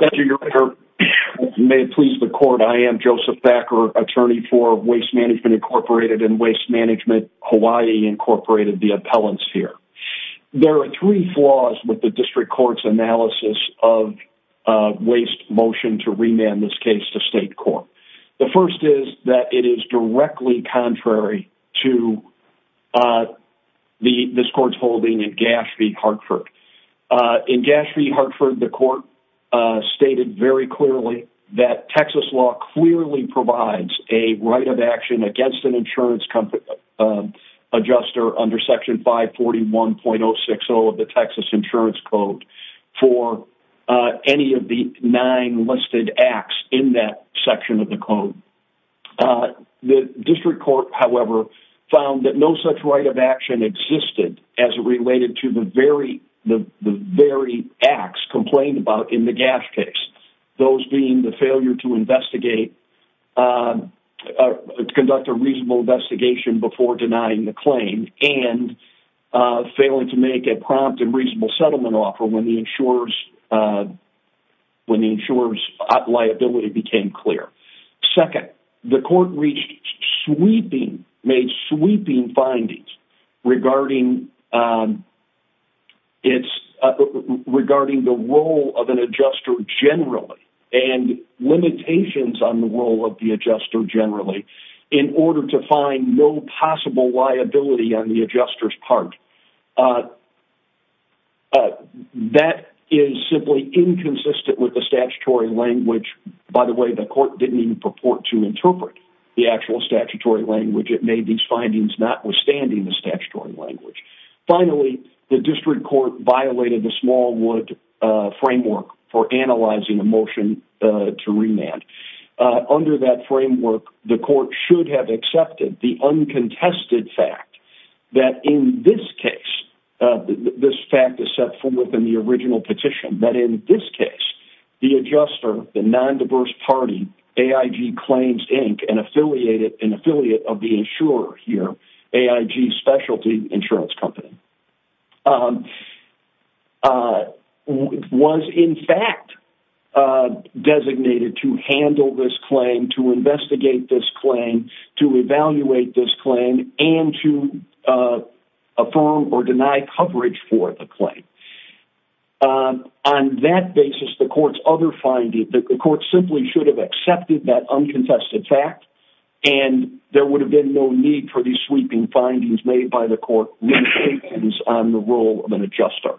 Thank you, Your Honor. May it please the court, I am Joseph Thacker, attorney for Waste Management, Incorporated and Waste Management Hawaii, Incorporated, the appellants here. There are three flaws with the district court's analysis of waste motion to remand this case to state court. The first is that it is directly contrary to the this court's holding in Gash v. Hartford. In Gash v. Hartford, the court stated very clearly that Texas law clearly provides a right of action against an insurance company adjuster under Section 541.060 of the Texas Insurance Code for any of the nine listed acts in that section of the code. The district court, however, found that no such right of action existed as it related to the very acts complained about in the Gash case, those being the failure to conduct a reasonable investigation before denying the claim and failing to make a prompt and reasonable settlement offer when the insurer's liability became clear. Second, the court made sweeping findings regarding the role of an adjuster generally and limitations on the role of the adjuster generally in order to find no possible liability on the adjuster's part. Uh, that is simply inconsistent with the statutory language. By the way, the court didn't even purport to interpret the actual statutory language. It made these findings notwithstanding the statutory language. Finally, the district court violated the Smallwood framework for analyzing a motion to remand. Under that framework, the court should have accepted the uncontested fact that in this case, this fact is set forth in the original petition, that in this case, the adjuster, the non-diverse party, AIG Claims, Inc., an affiliate of the insurer here, AIG Specialty Insurance Company, was in fact designated to handle this claim, to investigate this claim, to evaluate this claim, and to affirm or deny coverage for the claim. On that basis, the court's other findings, the court simply should have accepted that uncontested fact, and there would have been no need for these sweeping findings made by the court limitations on the role of an adjuster.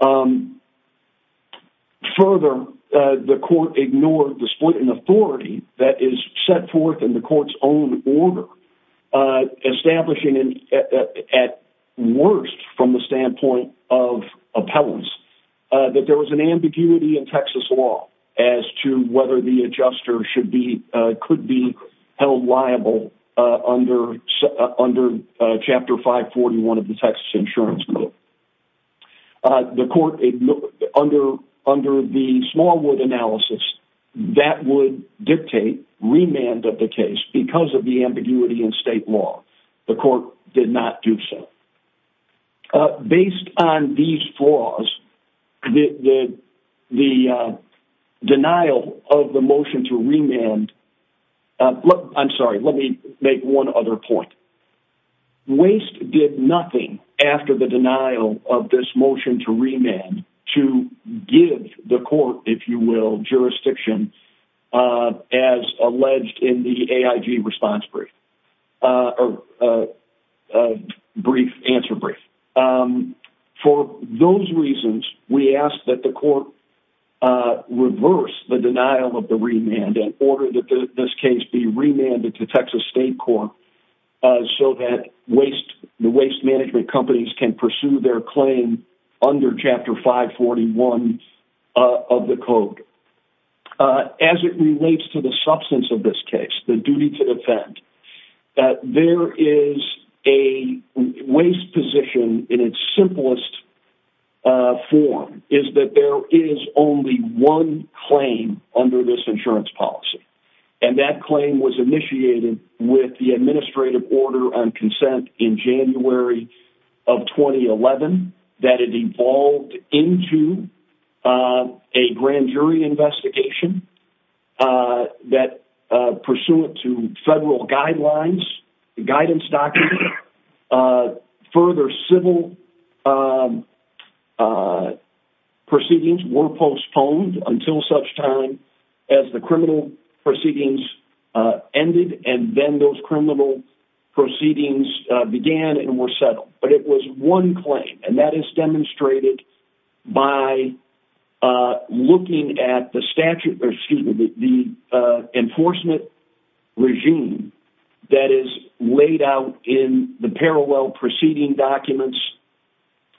Further, the court ignored the split in authority that is set forth in the court's own order, establishing at worst from the standpoint of appellants, that there was an ambiguity in Texas law as to whether the adjuster could be held liable under Chapter 541 of the Texas Insurance Code. The court, under the Smallwood analysis, that would dictate remand of the case because of the ambiguity in state law. The court did not do so. Based on these flaws, the denial of the motion to remand, I'm sorry, let me make one other point. Waste did nothing after the denial of this motion to remand to give the court, if you will, jurisdiction as alleged in the AIG response brief, or brief answer brief. For those reasons, we ask that the court reverse the denial of the remand in order that this case be remanded to Texas State Court so that the waste management companies can be held liable under Chapter 541 of the code. As it relates to the substance of this case, the duty to defend, that there is a waste position in its simplest form is that there is only one claim under this insurance policy. And that claim was initiated with the administrative order on into a grand jury investigation that pursuant to federal guidelines, guidance documents, further civil proceedings were postponed until such time as the criminal proceedings ended, and then those criminal proceedings began and were settled. But it was one claim, and that is demonstrated by looking at the statute, excuse me, the enforcement regime that is laid out in the parallel proceeding documents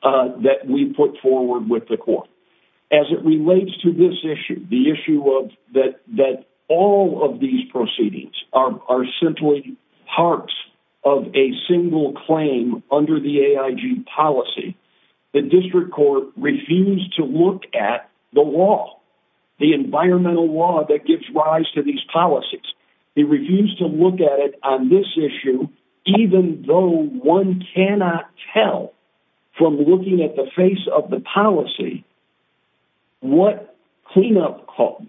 that we put forward with the court. As it relates to this issue, the issue of that all of these proceedings are simply parts of a the district court refused to look at the law, the environmental law that gives rise to these policies. He refused to look at it on this issue, even though one cannot tell from looking at the face of the policy what cleanup costs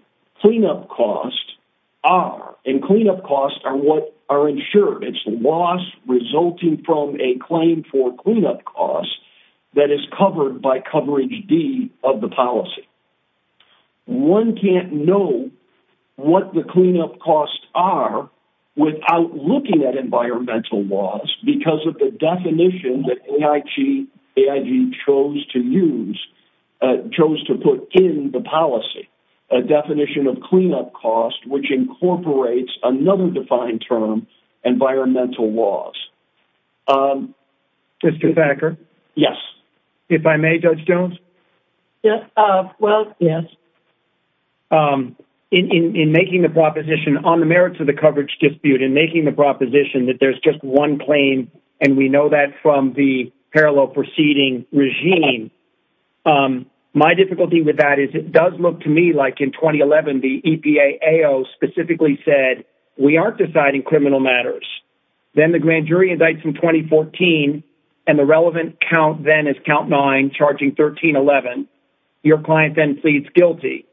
are. And cleanup costs are what are insured. It's loss resulting from a claim for cleanup costs that is covered by coverage D of the policy. One can't know what the cleanup costs are without looking at environmental laws, because of the definition that AIG chose to use, chose to put in the policy, a definition of laws. Mr. Thacker? Yes. If I may, Judge Jones? Yes. Well, yes. In making the proposition on the merits of the coverage dispute and making the proposition that there's just one claim, and we know that from the parallel proceeding regime, my difficulty with that is it does look to me like in 2011, the EPA AO specifically said, we aren't deciding criminal matters. Then the grand jury indicts in 2014. And the relevant count then is count nine charging 1311. Your client then pleads guilty.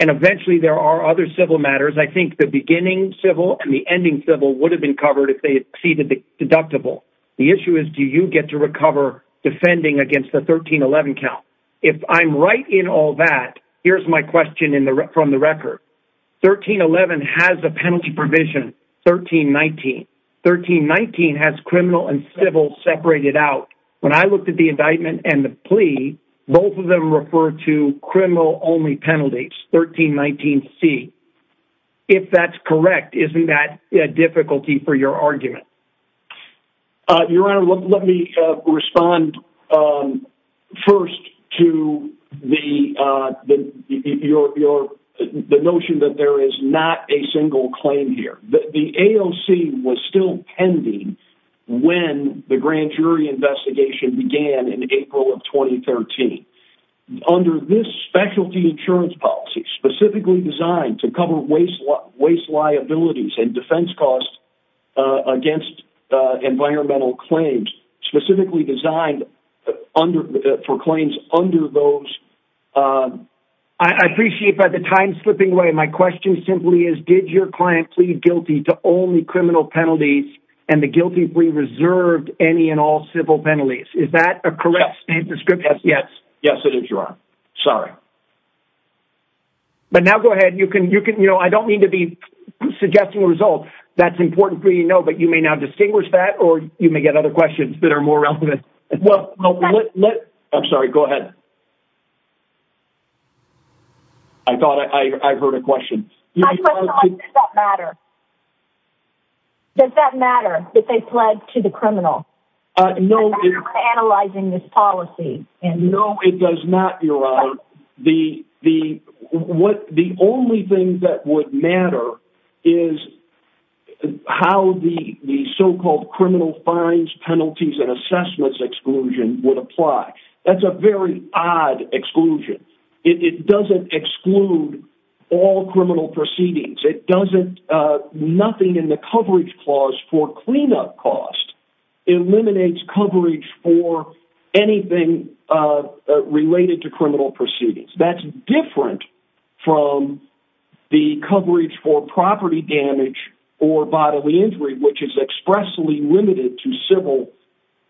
And eventually there are other civil matters. I think the beginning civil and the ending civil would have been covered if they exceeded the deductible. The issue is, do you get to recover defending against the 1311 count? If I'm right in all that, here's my question in the from the provision, 1319. 1319 has criminal and civil separated out. When I looked at the indictment and the plea, both of them refer to criminal only penalties, 1319C. If that's correct, isn't that a difficulty for your argument? Your Honor, let me respond first to the notion that there is not a single claim here. The AOC was still pending when the grand jury investigation began in April of 2013. Under this specialty insurance policy, specifically designed to cover waste liabilities and defense costs against environmental claims, specifically designed under for claims under those. I appreciate the time slipping away. My question simply is, did your client plead guilty to only criminal penalties and the guilty plea reserved any and all civil penalties? Is that a correct description? Yes. Yes, it is, Your Honor. Sorry. But now go ahead. You can you know, I don't mean to be suggesting a result that's important for you to know, but you may now distinguish that or you may get other questions that are more relevant. Well, I'm sorry. Go ahead. I thought I heard a question. Does that matter? Does that matter that they pledged to the criminal? No. Analyzing this policy. No, it does not, Your Honor. The only thing that would matter is how the so-called criminal fines, penalties and assessments exclusion would apply. That's a very odd exclusion. It doesn't exclude all criminal proceedings. It doesn't, nothing in the coverage clause for cleanup costs eliminates coverage for anything related to criminal proceedings. That's different from the coverage for property damage or bodily injury, which is expressly limited to civil.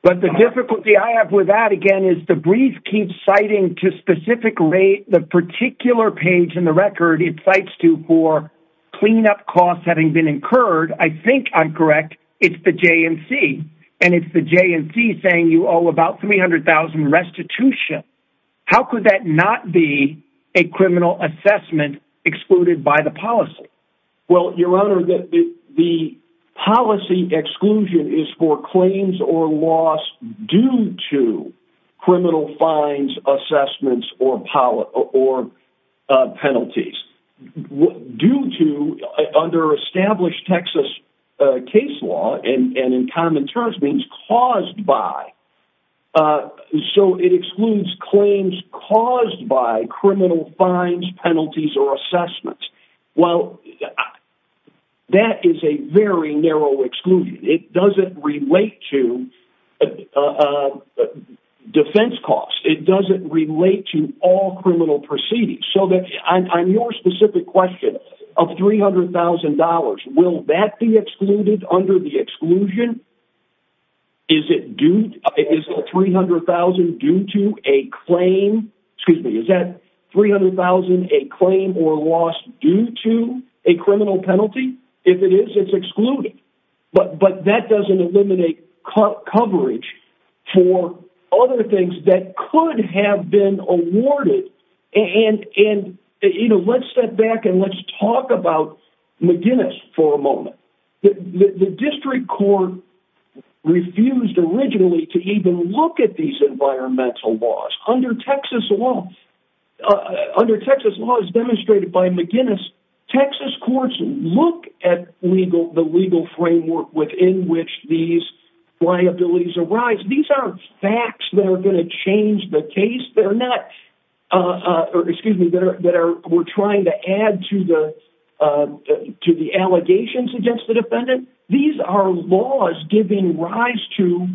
But the difficulty I have with that again is the brief keeps citing to specifically the particular page in the record. It cites to for cleanup costs having been incurred. I think I'm correct. It's the JNC and it's the JNC saying you owe about 300,000 restitution. How could that not be a criminal assessment excluded by the policy? Well, Your Honor, the policy exclusion is for claims or loss due to criminal fines, assessments or penalties due to under established Texas case law and in common terms means caused by. Uh, so it excludes claims caused by criminal fines, penalties or assessments. Well, that is a very narrow exclusion. It doesn't relate to, uh, uh, defense costs. It doesn't relate to all criminal proceedings. So that I'm, I'm your specific question of $300,000. Will that be excluded under the exclusion? Is it due to 300,000 due to a claim? Excuse me, is that 300,000, a claim or loss due to a criminal penalty? If it is, it's excluded, but that doesn't eliminate coverage for other things that could have been awarded. And, and, you know, let's step back and let's talk about McGinnis for a moment. The district court refused originally to even look at these environmental laws under Texas law, under Texas law is demonstrated by McGinnis. Texas courts look at legal, the legal framework within which these liabilities arise. These aren't facts that are going to change the case. They're not, uh, uh, or excuse me, that are, that are, we're trying to add to the, uh, to the allegations against the defendant. These are laws giving rise to,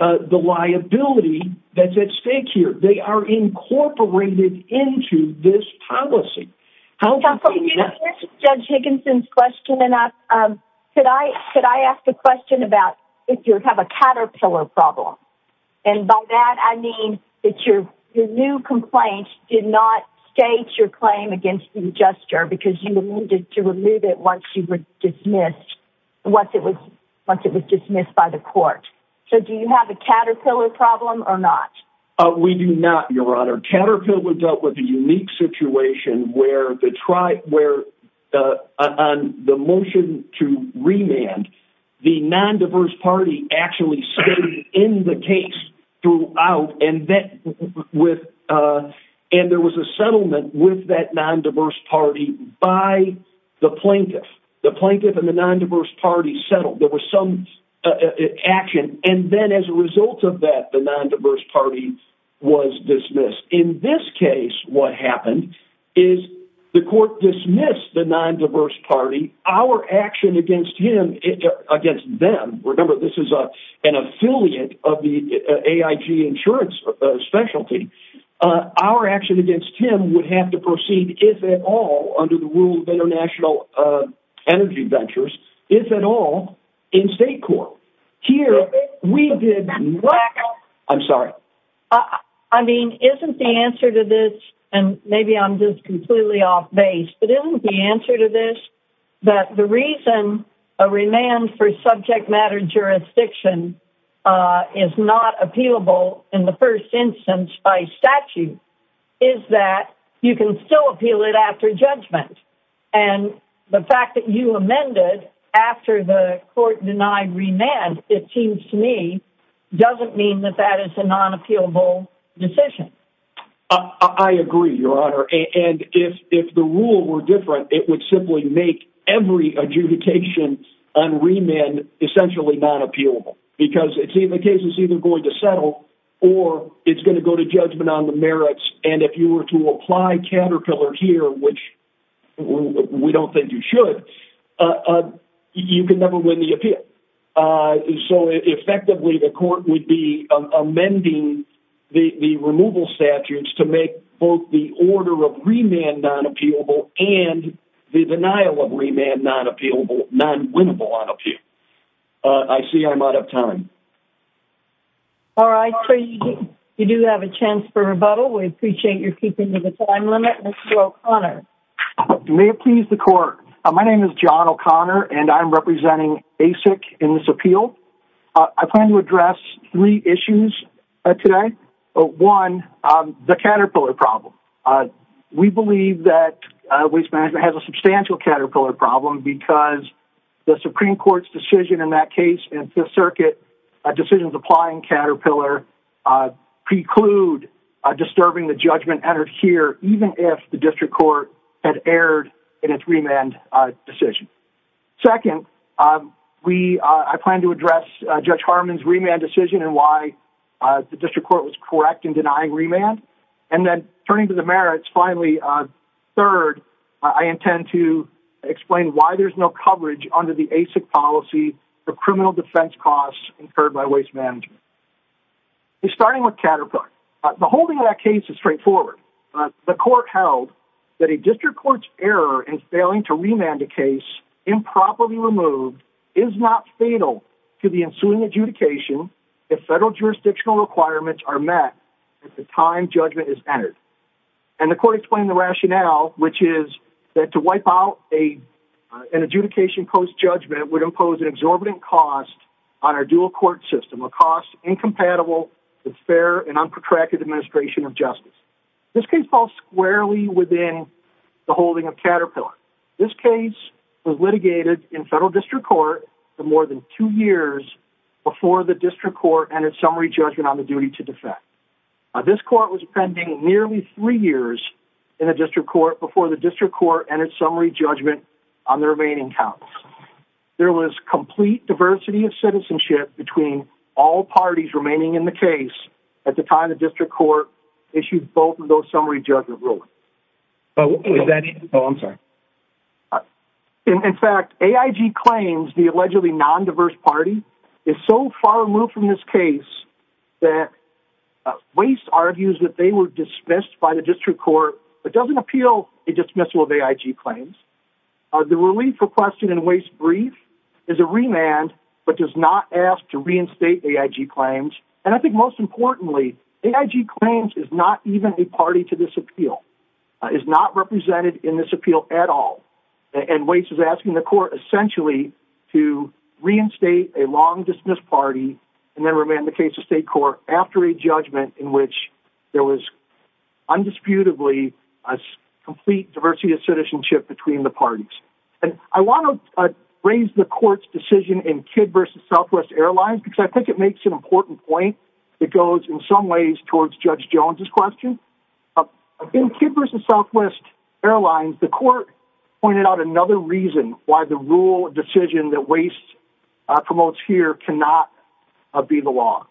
uh, the liability that's at stake here. They are incorporated into this policy. How can you judge Higginson's question? And I, um, could I, could I ask a question about if you would have a caterpillar problem? And by that, I mean that your new complaint did not state your claim against the adjuster because you needed to remove it once you were dismissed, once it was, once it was dismissed by the court. So do you have a caterpillar problem or not? We do not, your honor. Caterpillar dealt with a unique situation where the tribe, where, uh, on the motion to remand the non-diverse party actually stayed in the case throughout. And that with, uh, and there was a settlement with that non-diverse party by the plaintiff, the plaintiff and the non-diverse party settled. There was some action. And then as a result of that, the non-diverse party was dismissed. In this case, what happened is the court dismissed the non-diverse party, our action against him against them. Remember, this is an affiliate of the AIG insurance specialty. Uh, our action against him would have to proceed if at all under the rule of international, uh, energy ventures, if at all in state court here, we did. I'm sorry. I mean, isn't the answer to this, and maybe I'm just completely off base, but isn't the answer to this, that the reason a remand for subject matter jurisdiction, uh, is not appealable in the first instance by statute is that you can still appeal it after judgment. And the fact that you amended after the court denied remand, it seems to me doesn't mean that that is a non-appealable decision. Uh, I agree your honor. And if, if the rule were different, it would simply make every adjudication on remand, essentially not appealable because it's either cases either going to settle or it's going to go to judgment on the merits. And if you were to apply counter pillar here, which we don't think you should, uh, you can never win the appeal. Uh, so effectively the court would be amending the, the removal statutes to make both the order of remand non-appealable and the denial of remand, not appealable, non-winnable on appeal. Uh, I see I'm out of time. All right. You do have a chance for rebuttal. We appreciate your keeping to the time limit. Mr. O'Connor. May it please the court. My name is John O'Connor and I'm representing ASIC in this appeal. Uh, I plan to address three issues today. Oh, one, um, the caterpillar problem. Uh, we believe that, uh, waste management has a substantial caterpillar problem because the Supreme court's decision in that case in fifth circuit, uh, decisions applying caterpillar, uh, preclude, uh, disturbing the judgment entered here, even if the district court had erred in its remand decision. Second, um, we, uh, I plan to address, uh, judge Harmon's remand decision and why, uh, the district court was correct in denying remand and then turning to the merits. Finally, uh, third, I intend to explain why there's no coverage under the ASIC policy for criminal defense costs incurred by waste management. We're starting with caterpillar. Uh, the holding of that case is straightforward. Uh, the court held that a district court's error in failing to remand a case improperly removed is not fatal to the ensuing adjudication. If federal jurisdictional requirements are met at the time judgment is entered and the court explained the rationale, which is that to wipe out a, uh, an adjudication post judgment would impose an exorbitant cost on our dual court system, a cost incompatible with fair and unprotracted administration of justice. This case falls squarely within the holding of caterpillar. This case was litigated in federal district court for more than two years before the district court and its summary judgment on the duty to defect. Uh, this court was pending nearly three years in a district court before the district court and its summary judgment on the remaining counts. There was complete diversity of citizenship between all parties remaining in the case at the time of district court issued both of those summary judgment ruling. Oh, I'm sorry. In fact, AIG claims the allegedly non-diverse party is so far removed from this case that waste argues that they were dismissed by the district court, but doesn't appeal a dismissal of AIG claims. Uh, the relief requested in waste brief is a remand, but does not ask to reinstate AIG claims. And I think most importantly, AIG claims is not even a party to this appeal, uh, is not represented in this appeal at all. And waste is asking the court essentially to reinstate a long dismissed party and then remain the case of state court after a a complete diversity of citizenship between the parties. And I want to raise the court's decision in kid versus Southwest airlines, because I think it makes an important point. It goes in some ways towards judge Jones's question in kid versus Southwest airlines. The court pointed out another reason why the rule decision that waste promotes here cannot be the law.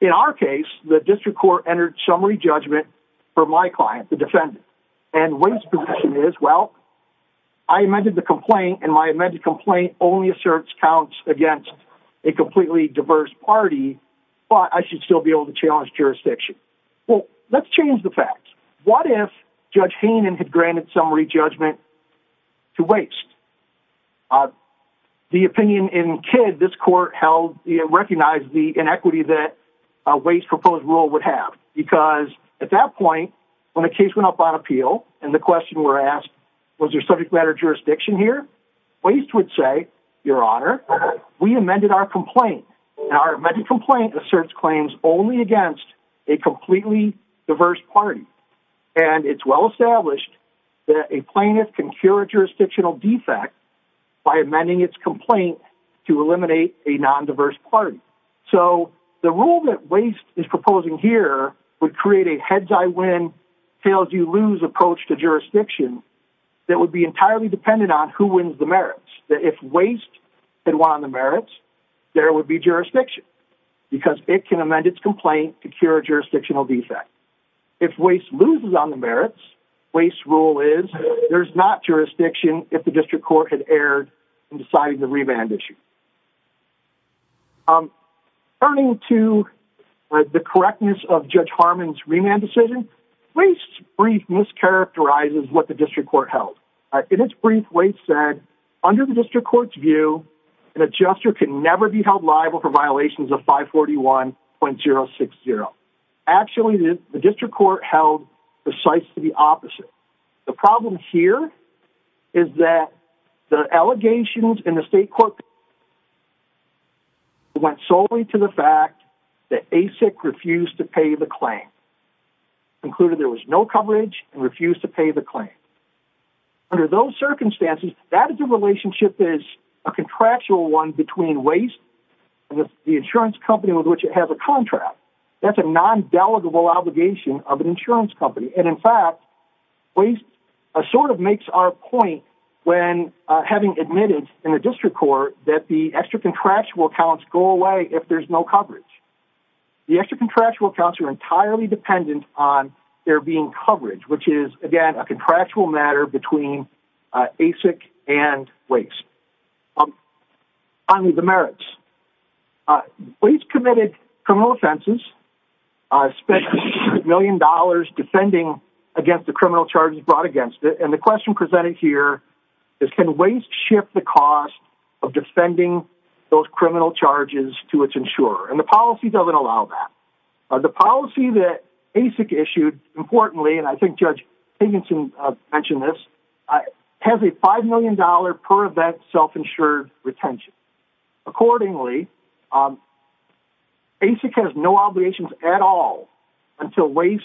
In our case, the district court entered summary judgment for my client, the defendant and waste position is, well, I amended the complaint and my amended complaint only asserts counts against a completely diverse party, but I should still be able to challenge jurisdiction. Well, let's change the facts. What if judge Hainan had granted summary judgment to waste, uh, the opinion in this court held, you know, recognize the inequity that a waste proposed rule would have because at that point, when a case went up on appeal and the question were asked, was there subject matter jurisdiction here? Waste would say your honor, we amended our complaint and our medical complaint asserts claims only against a completely diverse party. And it's well established that a plaintiff can cure a jurisdictional defect by amending its complaint to eliminate a non-diverse party. So the rule that waste is proposing here would create a heads. I win tails. You lose approach to jurisdiction. That would be entirely dependent on who wins the merits that if waste had won on the merits, there would be jurisdiction because it can amend its complaint to cure jurisdictional defect. If waste loses on the merits, waste rule is there's not jurisdiction. If the district court had erred in deciding the remand issue, um, turning to the correctness of judge Harmon's remand decision, waste brief mischaracterizes what the district court held. Uh, in its brief waste said under the district court's view, an adjuster can never be held liable for violations of five 41.0 60. Actually the district court held precise to the opposite. The problem here is that the allegations in the state court went solely to the fact that ASIC refused to pay the claim included. There was no coverage and refused to pay the claim. Under those circumstances, that is a relationship is a contractual one between waste and the insurance company with which it has a contract. That's a non-delegable obligation of an insurance company. And in fact, waste, uh, sort of makes our point when, uh, having admitted in the district court that the extra contractual accounts go away. If there's no coverage, the extra contractual accounts are entirely dependent on there being coverage, which is again, a contractual matter between, uh, ASIC and waste. Um, finally, the merits, uh, waste committed criminal offenses, uh, spent a million dollars defending against the criminal charges brought against it. And the question presented here is, can waste ship the cost of defending those criminal charges to its insurer? And the policy doesn't allow that. Uh, the policy that ASIC issued importantly, and I think judge Higginson mentioned this, uh, has a $5 million per event self-insured retention. Accordingly, um, ASIC has no obligations at all until waste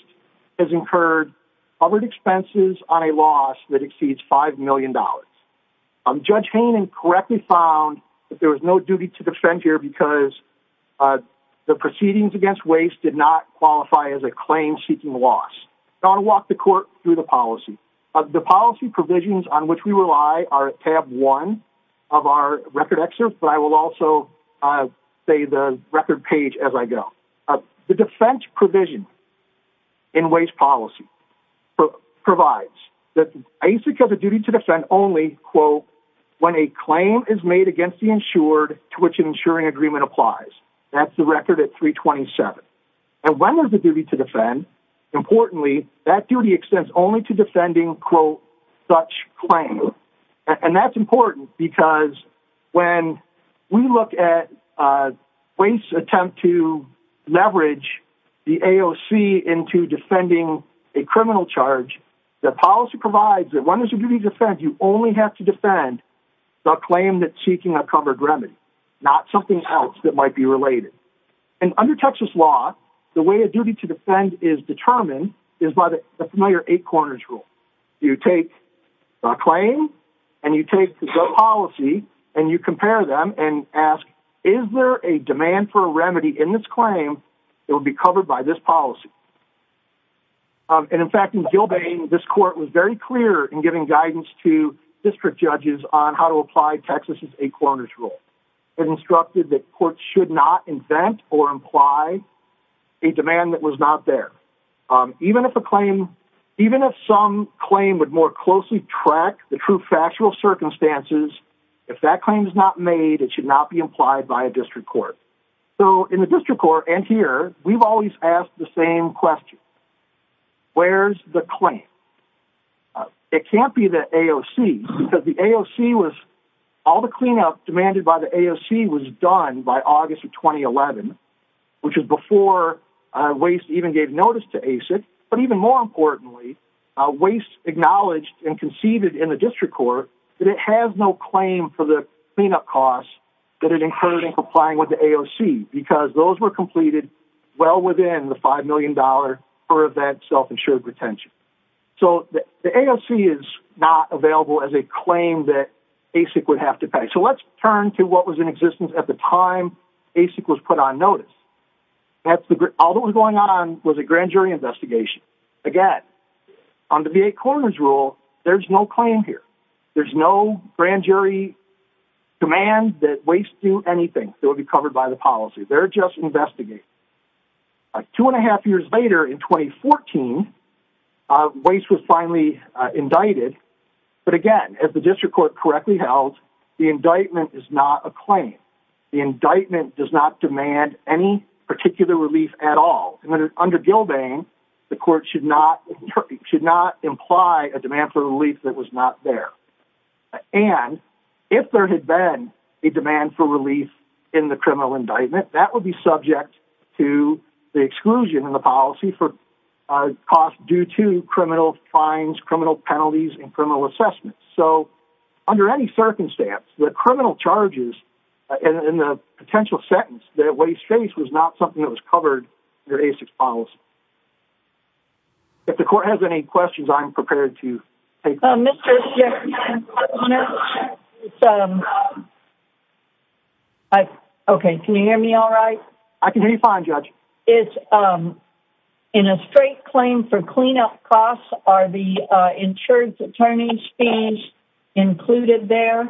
has incurred covered expenses on a loss that exceeds $5 million. Um, judge Hainan correctly found that there was no duty to defend here because, uh, the proceedings against waste did not qualify as a claim seeking loss. Now I'll walk the court through the policy of the policy provisions on which we rely are at tab one of our record excerpt, but I will also, uh, say the record page as I go. Uh, the defense provision in waste policy provides that ASIC has a duty to defend only quote, when a claim is made against the insured to which an insuring agreement applies. That's the record at three 27. And when there's a duty to defend importantly, that duty extends only to defending quote such claim. And that's important because when we look at, uh, waste attempt to leverage the AOC into defending a criminal charge, the policy provides that when there's a duty to defend, you only have to defend the claim that seeking a covered remedy, not something else that might be related. And under Texas law, the way a duty to defend is determined is by the familiar eight corners rule. You take a claim and you take the policy and you compare them and ask, is there a demand for a remedy in this claim? It will be covered by this policy. Um, and in fact, in Gilbane, this court was very clear in giving guidance to district judges on how to apply Texas's eight corners rule and instructed that courts should not invent or imply a demand that was not there. Um, even if a claim, even if some claim would more closely track the true factual circumstances, if that claim is not made, it should not be implied by a district court. So in the district court and here, we've always asked the same question. Where's the claim? Uh, it can't be the AOC because the AOC was all the cleanup demanded by the AOC was done by August of 2011, which was before, uh, waste even gave notice to ASIC. But even more importantly, uh, waste acknowledged and conceived in the district court that it has no claim for the cleanup costs that it incurred in complying with the AOC because those were completed well within the $5 million per event self-insured retention. So the AOC is not available as a claim that ASIC would have to pay. So let's turn to what was in existence at the time ASIC was put on notice. That's the group. All that was going on was a grand jury investigation. Again, on the VA corners rule, there's no claim here. There's no grand jury demand that waste do anything that would be covered by the policy. They're just investigating. Two and a half years later in 2014, uh, waste was finally indicted. But again, as the district court correctly held, the indictment is not a claim. The indictment does not demand any particular relief at all. And under Gilbane, the court should not, should not imply a demand for relief that was not there. And if there had been a demand for relief in the criminal indictment, that would be subject to the exclusion in the policy for costs due to criminal fines, criminal penalties, and criminal assessments. So under any circumstance, the criminal charges in the potential sentence that waste face was not something that was covered your ASIC policy. If the court has any questions, I'm prepared to okay. Can you hear me? All right. I can hear you fine judge. It's, um, in a straight claim for cleanup costs are the, uh, insurance attorney's fees included there. Okay.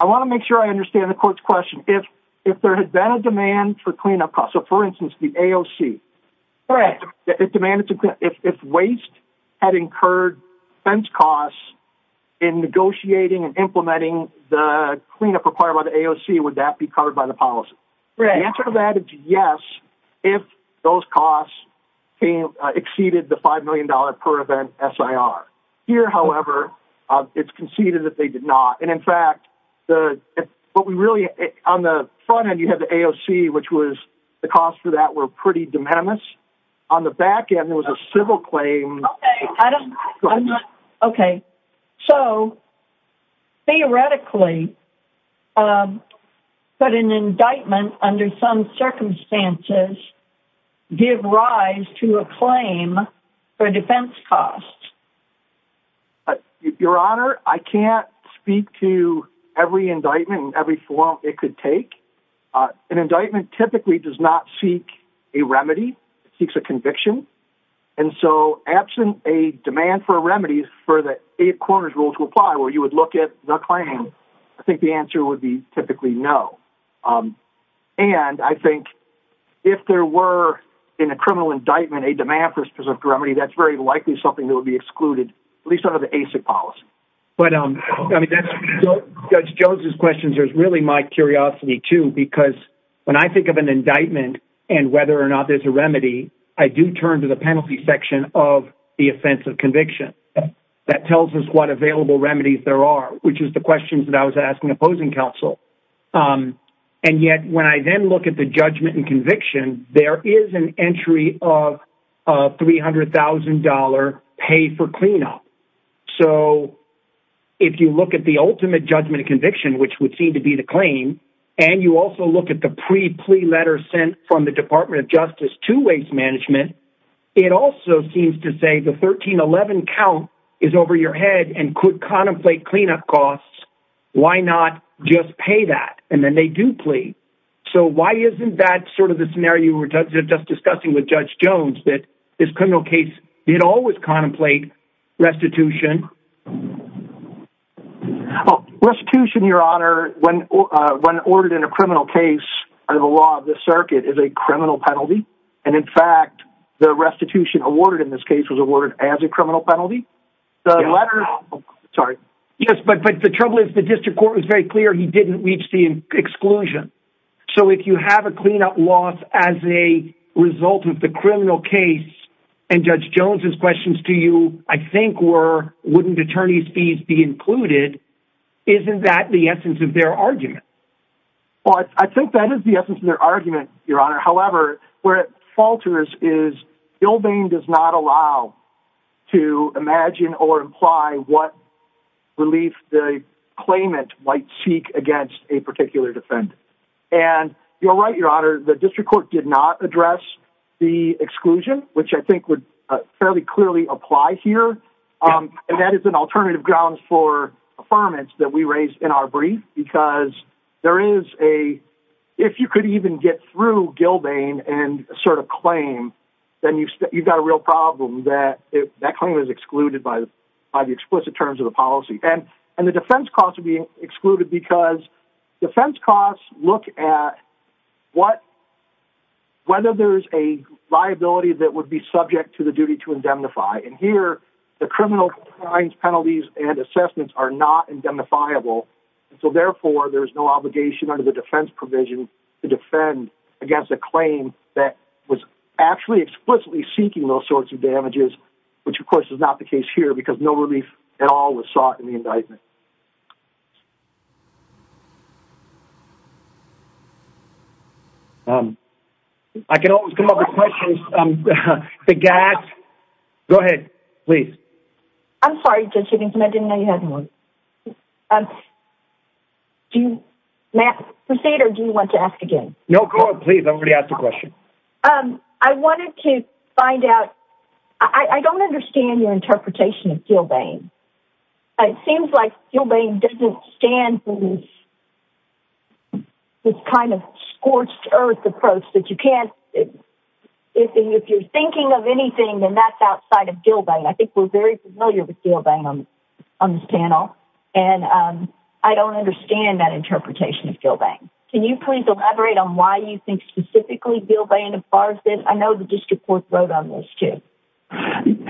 I want to make sure I understand the court's question. If, if there had been a demand for cleanup costs, so for instance, the AOC, it demanded if, if waste had incurred fence costs in negotiating and implementing the cleanup required by the AOC, would that be covered by the policy? The answer to that is yes. If those costs came exceeded the $5 million per event SIR here, however, uh, it's conceded that they did not. And in fact, the, what we really, on the front end, you have the AOC, which was the cost for that were pretty de minimis on the back end. There was a civil claim. Okay. So theoretically, um, but an indictment under some circumstances give rise to a claim for defense costs. Your honor, I can't speak to every indictment, every form it could take, uh, an indictment typically does not seek a remedy seeks a conviction. And so absent a demand for remedies for the eight corners rule to apply where you would look at the claim. I think the answer would be no. Um, and I think if there were in a criminal indictment, a demand for specific remedy, that's very likely something that would be excluded, at least out of the basic policy. But, um, I mean, that's judge Jones's questions. There's really my curiosity too, because when I think of an indictment and whether or not there's a remedy, I do turn to the penalty section of the offensive conviction that tells us what available remedies there are, which is the questions that I was asking opposing counsel. Um, and yet when I then look at the judgment and conviction, there is an entry of a $300,000 pay for cleanup. So if you look at the ultimate judgment and conviction, which would seem to be the claim, and you also look at the pre plea letter sent from the department of justice to waste management, it also seems to say the 1311 count is over your head and could contemplate cleanup costs. Why not just pay that? And then they do plea. So why isn't that sort of the scenario we were just discussing with judge Jones that this criminal case did always contemplate restitution. Oh, restitution, your honor. When, uh, when ordered in a criminal case or the law of the circuit is a criminal penalty. And in fact, the restitution awarded in this case was awarded as a criminal penalty. The letter, sorry. Yes. But, but the trouble is the district court was very clear. He didn't reach the exclusion. So if you have a cleanup loss as a result of the criminal case and judge Jones's questions to you, I think were, wouldn't attorneys fees be included? Isn't that the argument your honor. However, where it falters is Bill Bain does not allow to imagine or imply what relief the claimant might seek against a particular defendant. And you're right. Your honor, the district court did not address the exclusion, which I think would fairly clearly apply here. Um, and that is an alternative grounds for affirmance that we raised in our brief, because there is a, if you could even get through Gilbane and assert a claim, then you've got a real problem that it, that claim is excluded by the, by the explicit terms of the policy. And, and the defense costs are being excluded because defense costs look at what, whether there's a liability that would be subject to the duty to indemnify. And here the criminal crimes penalties and assessments are not indemnifiable. And so therefore there's no obligation under the defense provision to defend against a claim that was actually explicitly seeking those sorts of damages, which of course is not the case here because no relief at all was sought in the indictment. Um, I can always come up with questions. Um, the gas, go ahead, please. I'm sorry. I didn't know you had one. Um, do you proceed or do you want to ask again? No, please. I'm going to ask the question. Um, I wanted to find out, I don't understand your interpretation of Gilbane. It seems like Gilbane doesn't stand. It's kind of scorched earth approach that you can't, if you're thinking of anything, then that's outside of Gilbane. I think we're very familiar with Gilbane on this panel. And, um, I don't understand that interpretation of Gilbane. Can you please elaborate on why you think specifically Gilbane as far as this? I know the district court wrote on this too.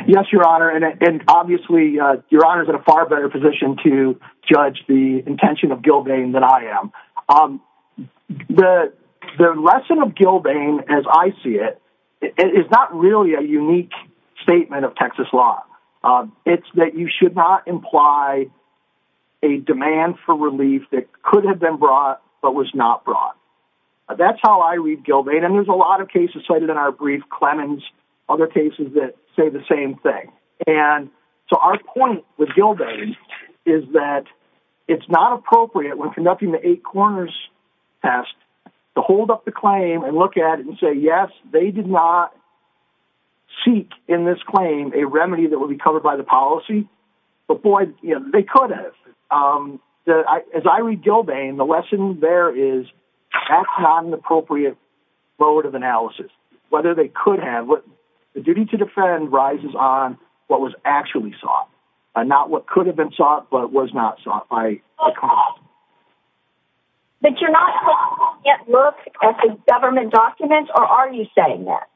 Yes, your honor. And obviously, uh, your honor is in a far better position to judge the intention of Gilbane than I am. Um, the, the lesson of Gilbane as I see it, it is not really a unique statement of Texas law. Um, it's that you should not imply a demand for relief that could have been brought, but was not brought. That's how I read Gilbane. And there's a lot of cases cited in our brief Clemens, other cases that say the same thing. And so our point with Gilbane is that it's not appropriate when conducting the eight corners test to hold up the claim and look at it and say, yes, they did not seek in this claim, a remedy that will be covered by the policy, but boy, you know, they could have, um, the, as I read Gilbane, the lesson there is not an appropriate vote of analysis, whether they could have what the duty to defend rises on what was actually sought and not what could have been sought, but it was not sought by a cop. But you're not yet look at the government documents or are you saying that?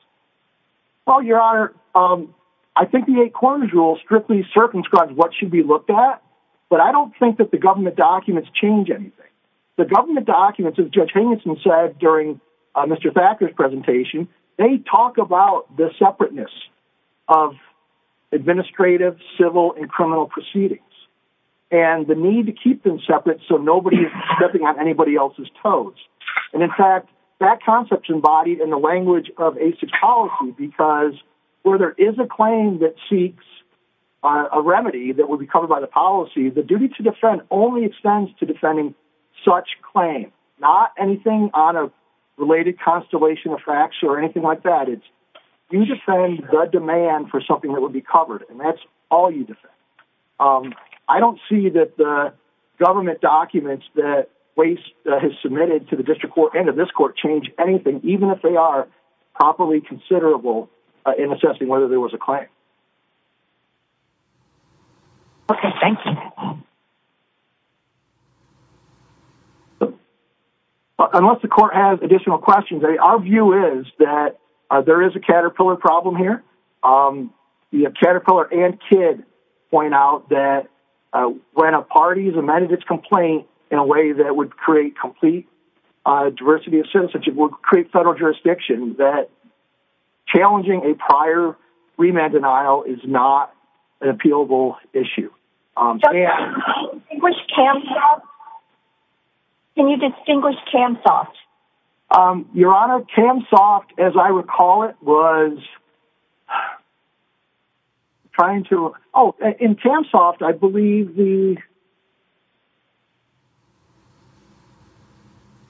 Well, your honor, um, I think the eight corners rule strictly circumscribed what should be looked at, but I don't think that the government documents change anything. The government documents of judge Hingeson said during Mr. Thacker's presentation, they talk about the criminal proceedings and the need to keep them separate. So nobody's stepping on anybody else's toes. And in fact, that concept embodied in the language of a six policy, because where there is a claim that seeks a remedy that will be covered by the policy, the duty to defend only extends to defending such claim, not anything on a related constellation of facts or anything like that. You defend the demand for something that would be covered and that's all you defend. Um, I don't see that the government documents that waste has submitted to the district court and to this court change anything, even if they are properly considerable in assessing whether there was a claim. Okay. Thank you. Um, unless the court has additional questions, our view is that there is a caterpillar problem here. Um, you have caterpillar and kid point out that, uh, when a party is amended its complaint in a way that would create complete, uh, diversity of citizenship would create federal jurisdiction that challenging a prior remand denial is not an appealable issue. Um, can you distinguish cam soft? Um, your honor cam soft, as I recall, it was trying to, Oh, in cam soft, I believe the,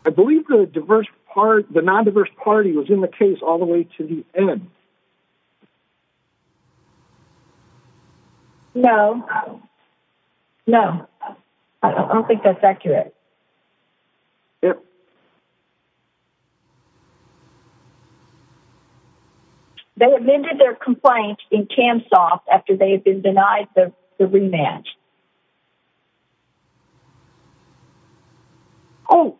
I believe the diverse part, the non-diverse party was in the case all the way to the end. No, no, I don't think that's accurate. They amended their complaint in cam soft after they had been denied the rematch. Oh,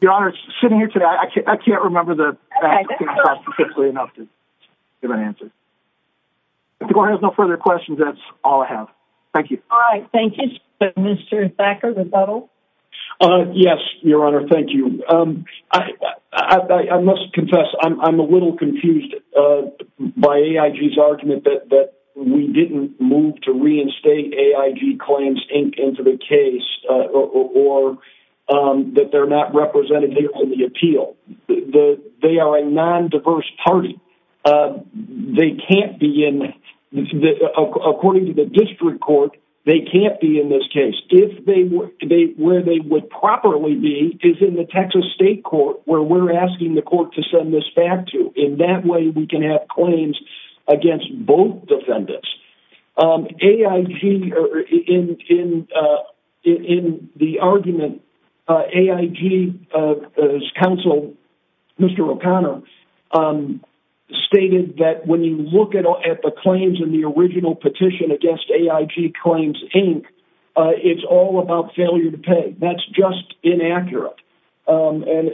your honor's sitting here today. I can't, I can't remember the enough to give an answer. If the court has no further questions, that's all I have. Thank you. All right. Thank you, Mr. Thacker. Yes, your honor. Thank you. Um, I, I, I must confess. I'm, AIG claims into the case, uh, or, um, that they're not represented here on the appeal. They are a non-diverse party. Uh, they can't be in the, according to the district court, they can't be in this case. If they were to be where they would properly be is in the Texas state court where we're asking the court to send this back to in that way, we can have claims against both defendants. Um, AIG or in, in, uh, in, in the argument, uh, AIG, uh, as counsel, Mr. O'Connor, um, stated that when you look at, at the claims in the original petition against AIG claims, Inc, uh, it's all about failure to pay. That's just inaccurate. Um, and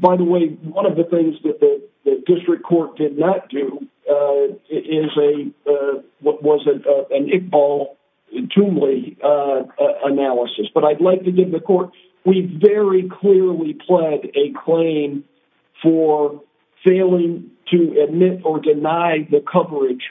by the way, one of the things that the district court did not do, uh, is a, uh, what was it? Uh, an Iqbal to me, uh, uh, analysis, but I'd like to give the court. We very clearly pled a claim for failing to admit or deny the coverage,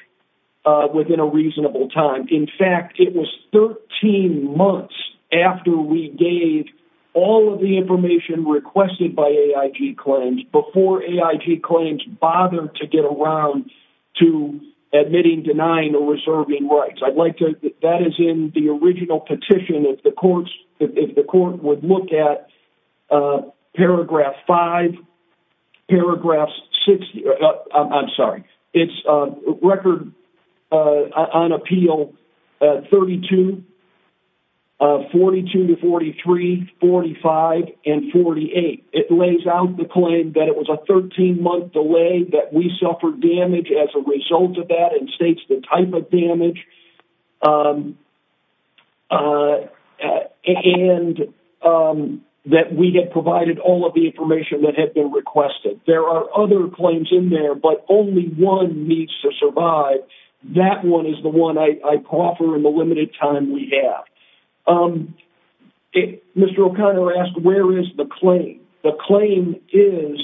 uh, within a reasonable time. In fact, it was 13 months after we gave all of the information requested by AIG claims before AIG claims bothered to get around to admitting, denying, or reserving rights. I'd like to, that is in the original petition. If the courts, if the court would look at, uh, paragraph five paragraphs, six, I'm sorry. It's a record, uh, on appeal, uh, 32, uh, 42 to 43, 45 and 48. It lays out the claim that it was a 13 month delay that we suffered damage as a result of that and states the type of damage, um, uh, and, um, that we had provided all of the information that had been requested. There are other claims in there, but only one needs to survive. That one is the one I offer in the limited time we have. Um, Mr. O'Connor asked, where is the claim? The claim is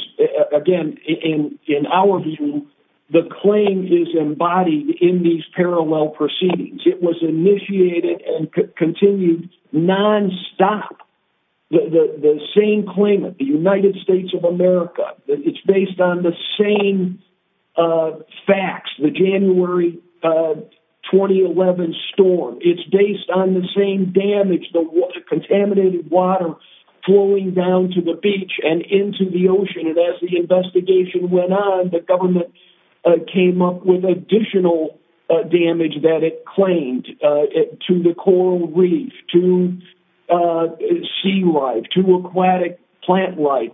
again, in, in our view, the claim is embodied in these parallel proceedings. It was initiated and continued nonstop. The, the, the same claimant, the United States of America, it's based on the same, uh, facts, the January, uh, 2011 storm. It's based on the same damage, the contaminated water flowing down to the beach and into the ocean. And as the investigation went on, the government came up with additional damage that it claimed to the coral reef, to sea life, to aquatic plant life.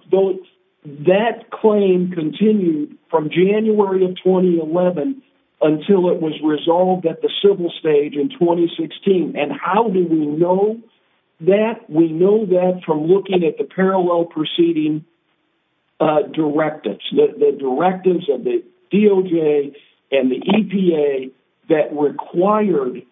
That claim continued from January of 2011 until it was resolved at the civil stage in 2016. And how do we know that? We know that from looking at the directives of the DOJ and the EPA that required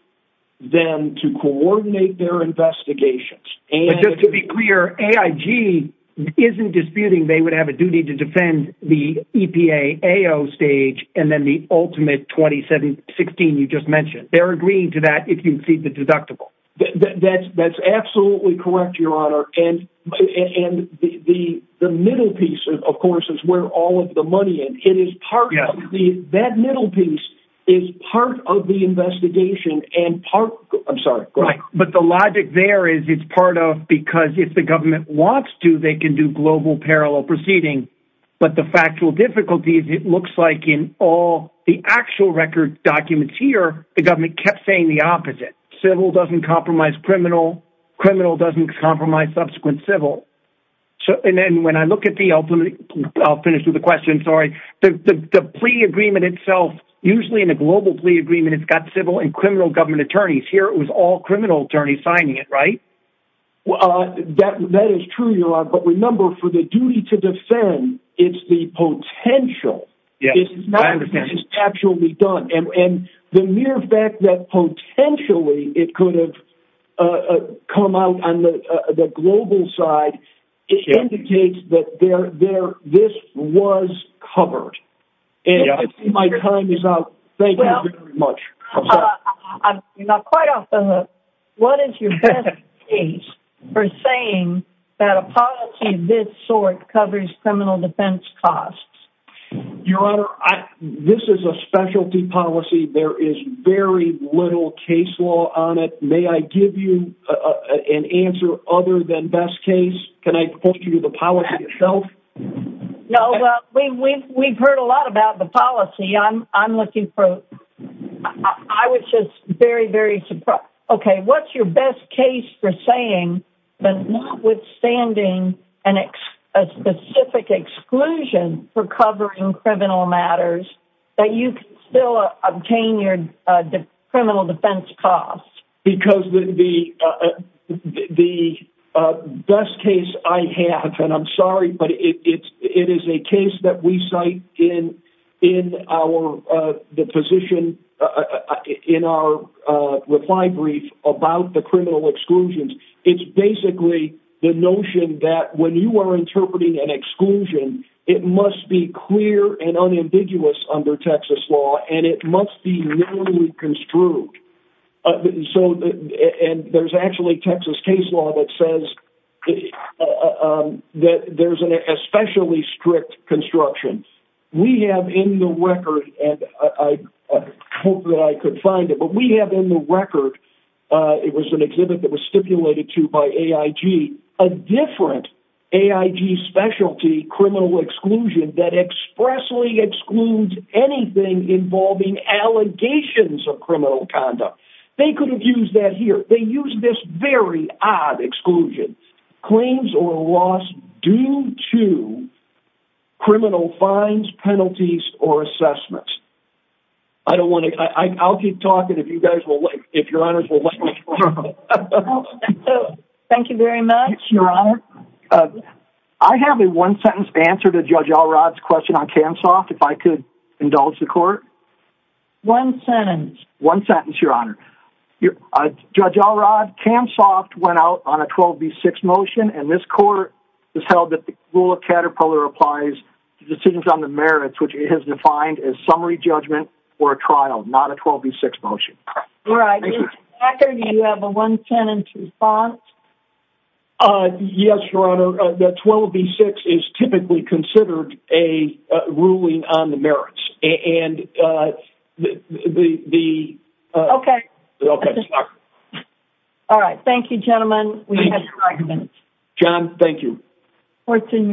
them to coordinate their investigations. And just to be clear, AIG isn't disputing. They would have a duty to defend the EPA AO stage. And then the ultimate 2716, you just mentioned, they're agreeing to that. If you see the deductible that's, that's absolutely correct. Your honor. And, and the, the, the middle piece of course, where all of the money and it is part of the, that middle piece is part of the investigation and part, I'm sorry. But the logic there is it's part of, because if the government wants to, they can do global parallel proceeding, but the factual difficulties, it looks like in all the actual record documents here, the government kept saying the opposite civil doesn't compromise criminal criminal doesn't compromise subsequent civil. So, and then when I look at the ultimate finished with the question, sorry, the, the, the plea agreement itself, usually in a global plea agreement, it's got civil and criminal government attorneys here. It was all criminal attorney signing it, right? Well, that, that is true, your honor. But remember for the duty to defend it's the potential. It's not actually done. And the mere fact that potentially it could have come out on the global side, it indicates that there, there, this was covered and my time is out. Thank you very much. You're not quite off the hook. What is your case for saying that a policy of this sort covers criminal defense costs? Your honor, this is a specialty policy. There is very little case law on it. May I give you an answer other than best case? Can I put you to the policy itself? No, we've, we've, we've heard a lot about the policy. I'm, I'm looking for, I was just very, very surprised. Okay. What's your best case for saying, but not withstanding an ex a specific exclusion for covering criminal matters that you can still obtain your criminal defense costs? Because the, uh, the, uh, best case I have, and I'm sorry, but it's, it is a case that we cite in, in our, uh, the position, uh, in our, uh, reply brief about the criminal exclusions. It's basically the notion that when you are interpreting an exclusion, it must be clear and unambiguous under Texas law, and it must be literally construed. So, and there's actually Texas case law that says, um, that there's an especially strict construction we have in the record. And I hope that I could find it, but we have in the record, uh, it was an exhibit that was stipulated to by AIG, a different AIG specialty criminal exclusion that expressly excludes anything involving allegations of criminal conduct. They could have used that here. They use this very odd exclusion claims or loss due to criminal fines, penalties, or assessments. I don't want to, I I'll keep talking. If you guys if your honors will let me, thank you very much, your honor. I have a one sentence answer to judge Alrod's question on cam soft. If I could indulge the court one sentence, one sentence, your honor judge Alrod cam soft went out on a 12 B six motion. And this court was held that the rule of Caterpillar applies to decisions on the merits, which it has defined as summary judgment or a trial, not a 12 B six motion. Do you have a one tenant response? Uh, yes, your honor. Uh, the 12 B six is typically considered a ruling on the merits and, uh, the, the, the, uh, okay. All right. Thank you, gentlemen. John, thank you. What's in recess. Thank you.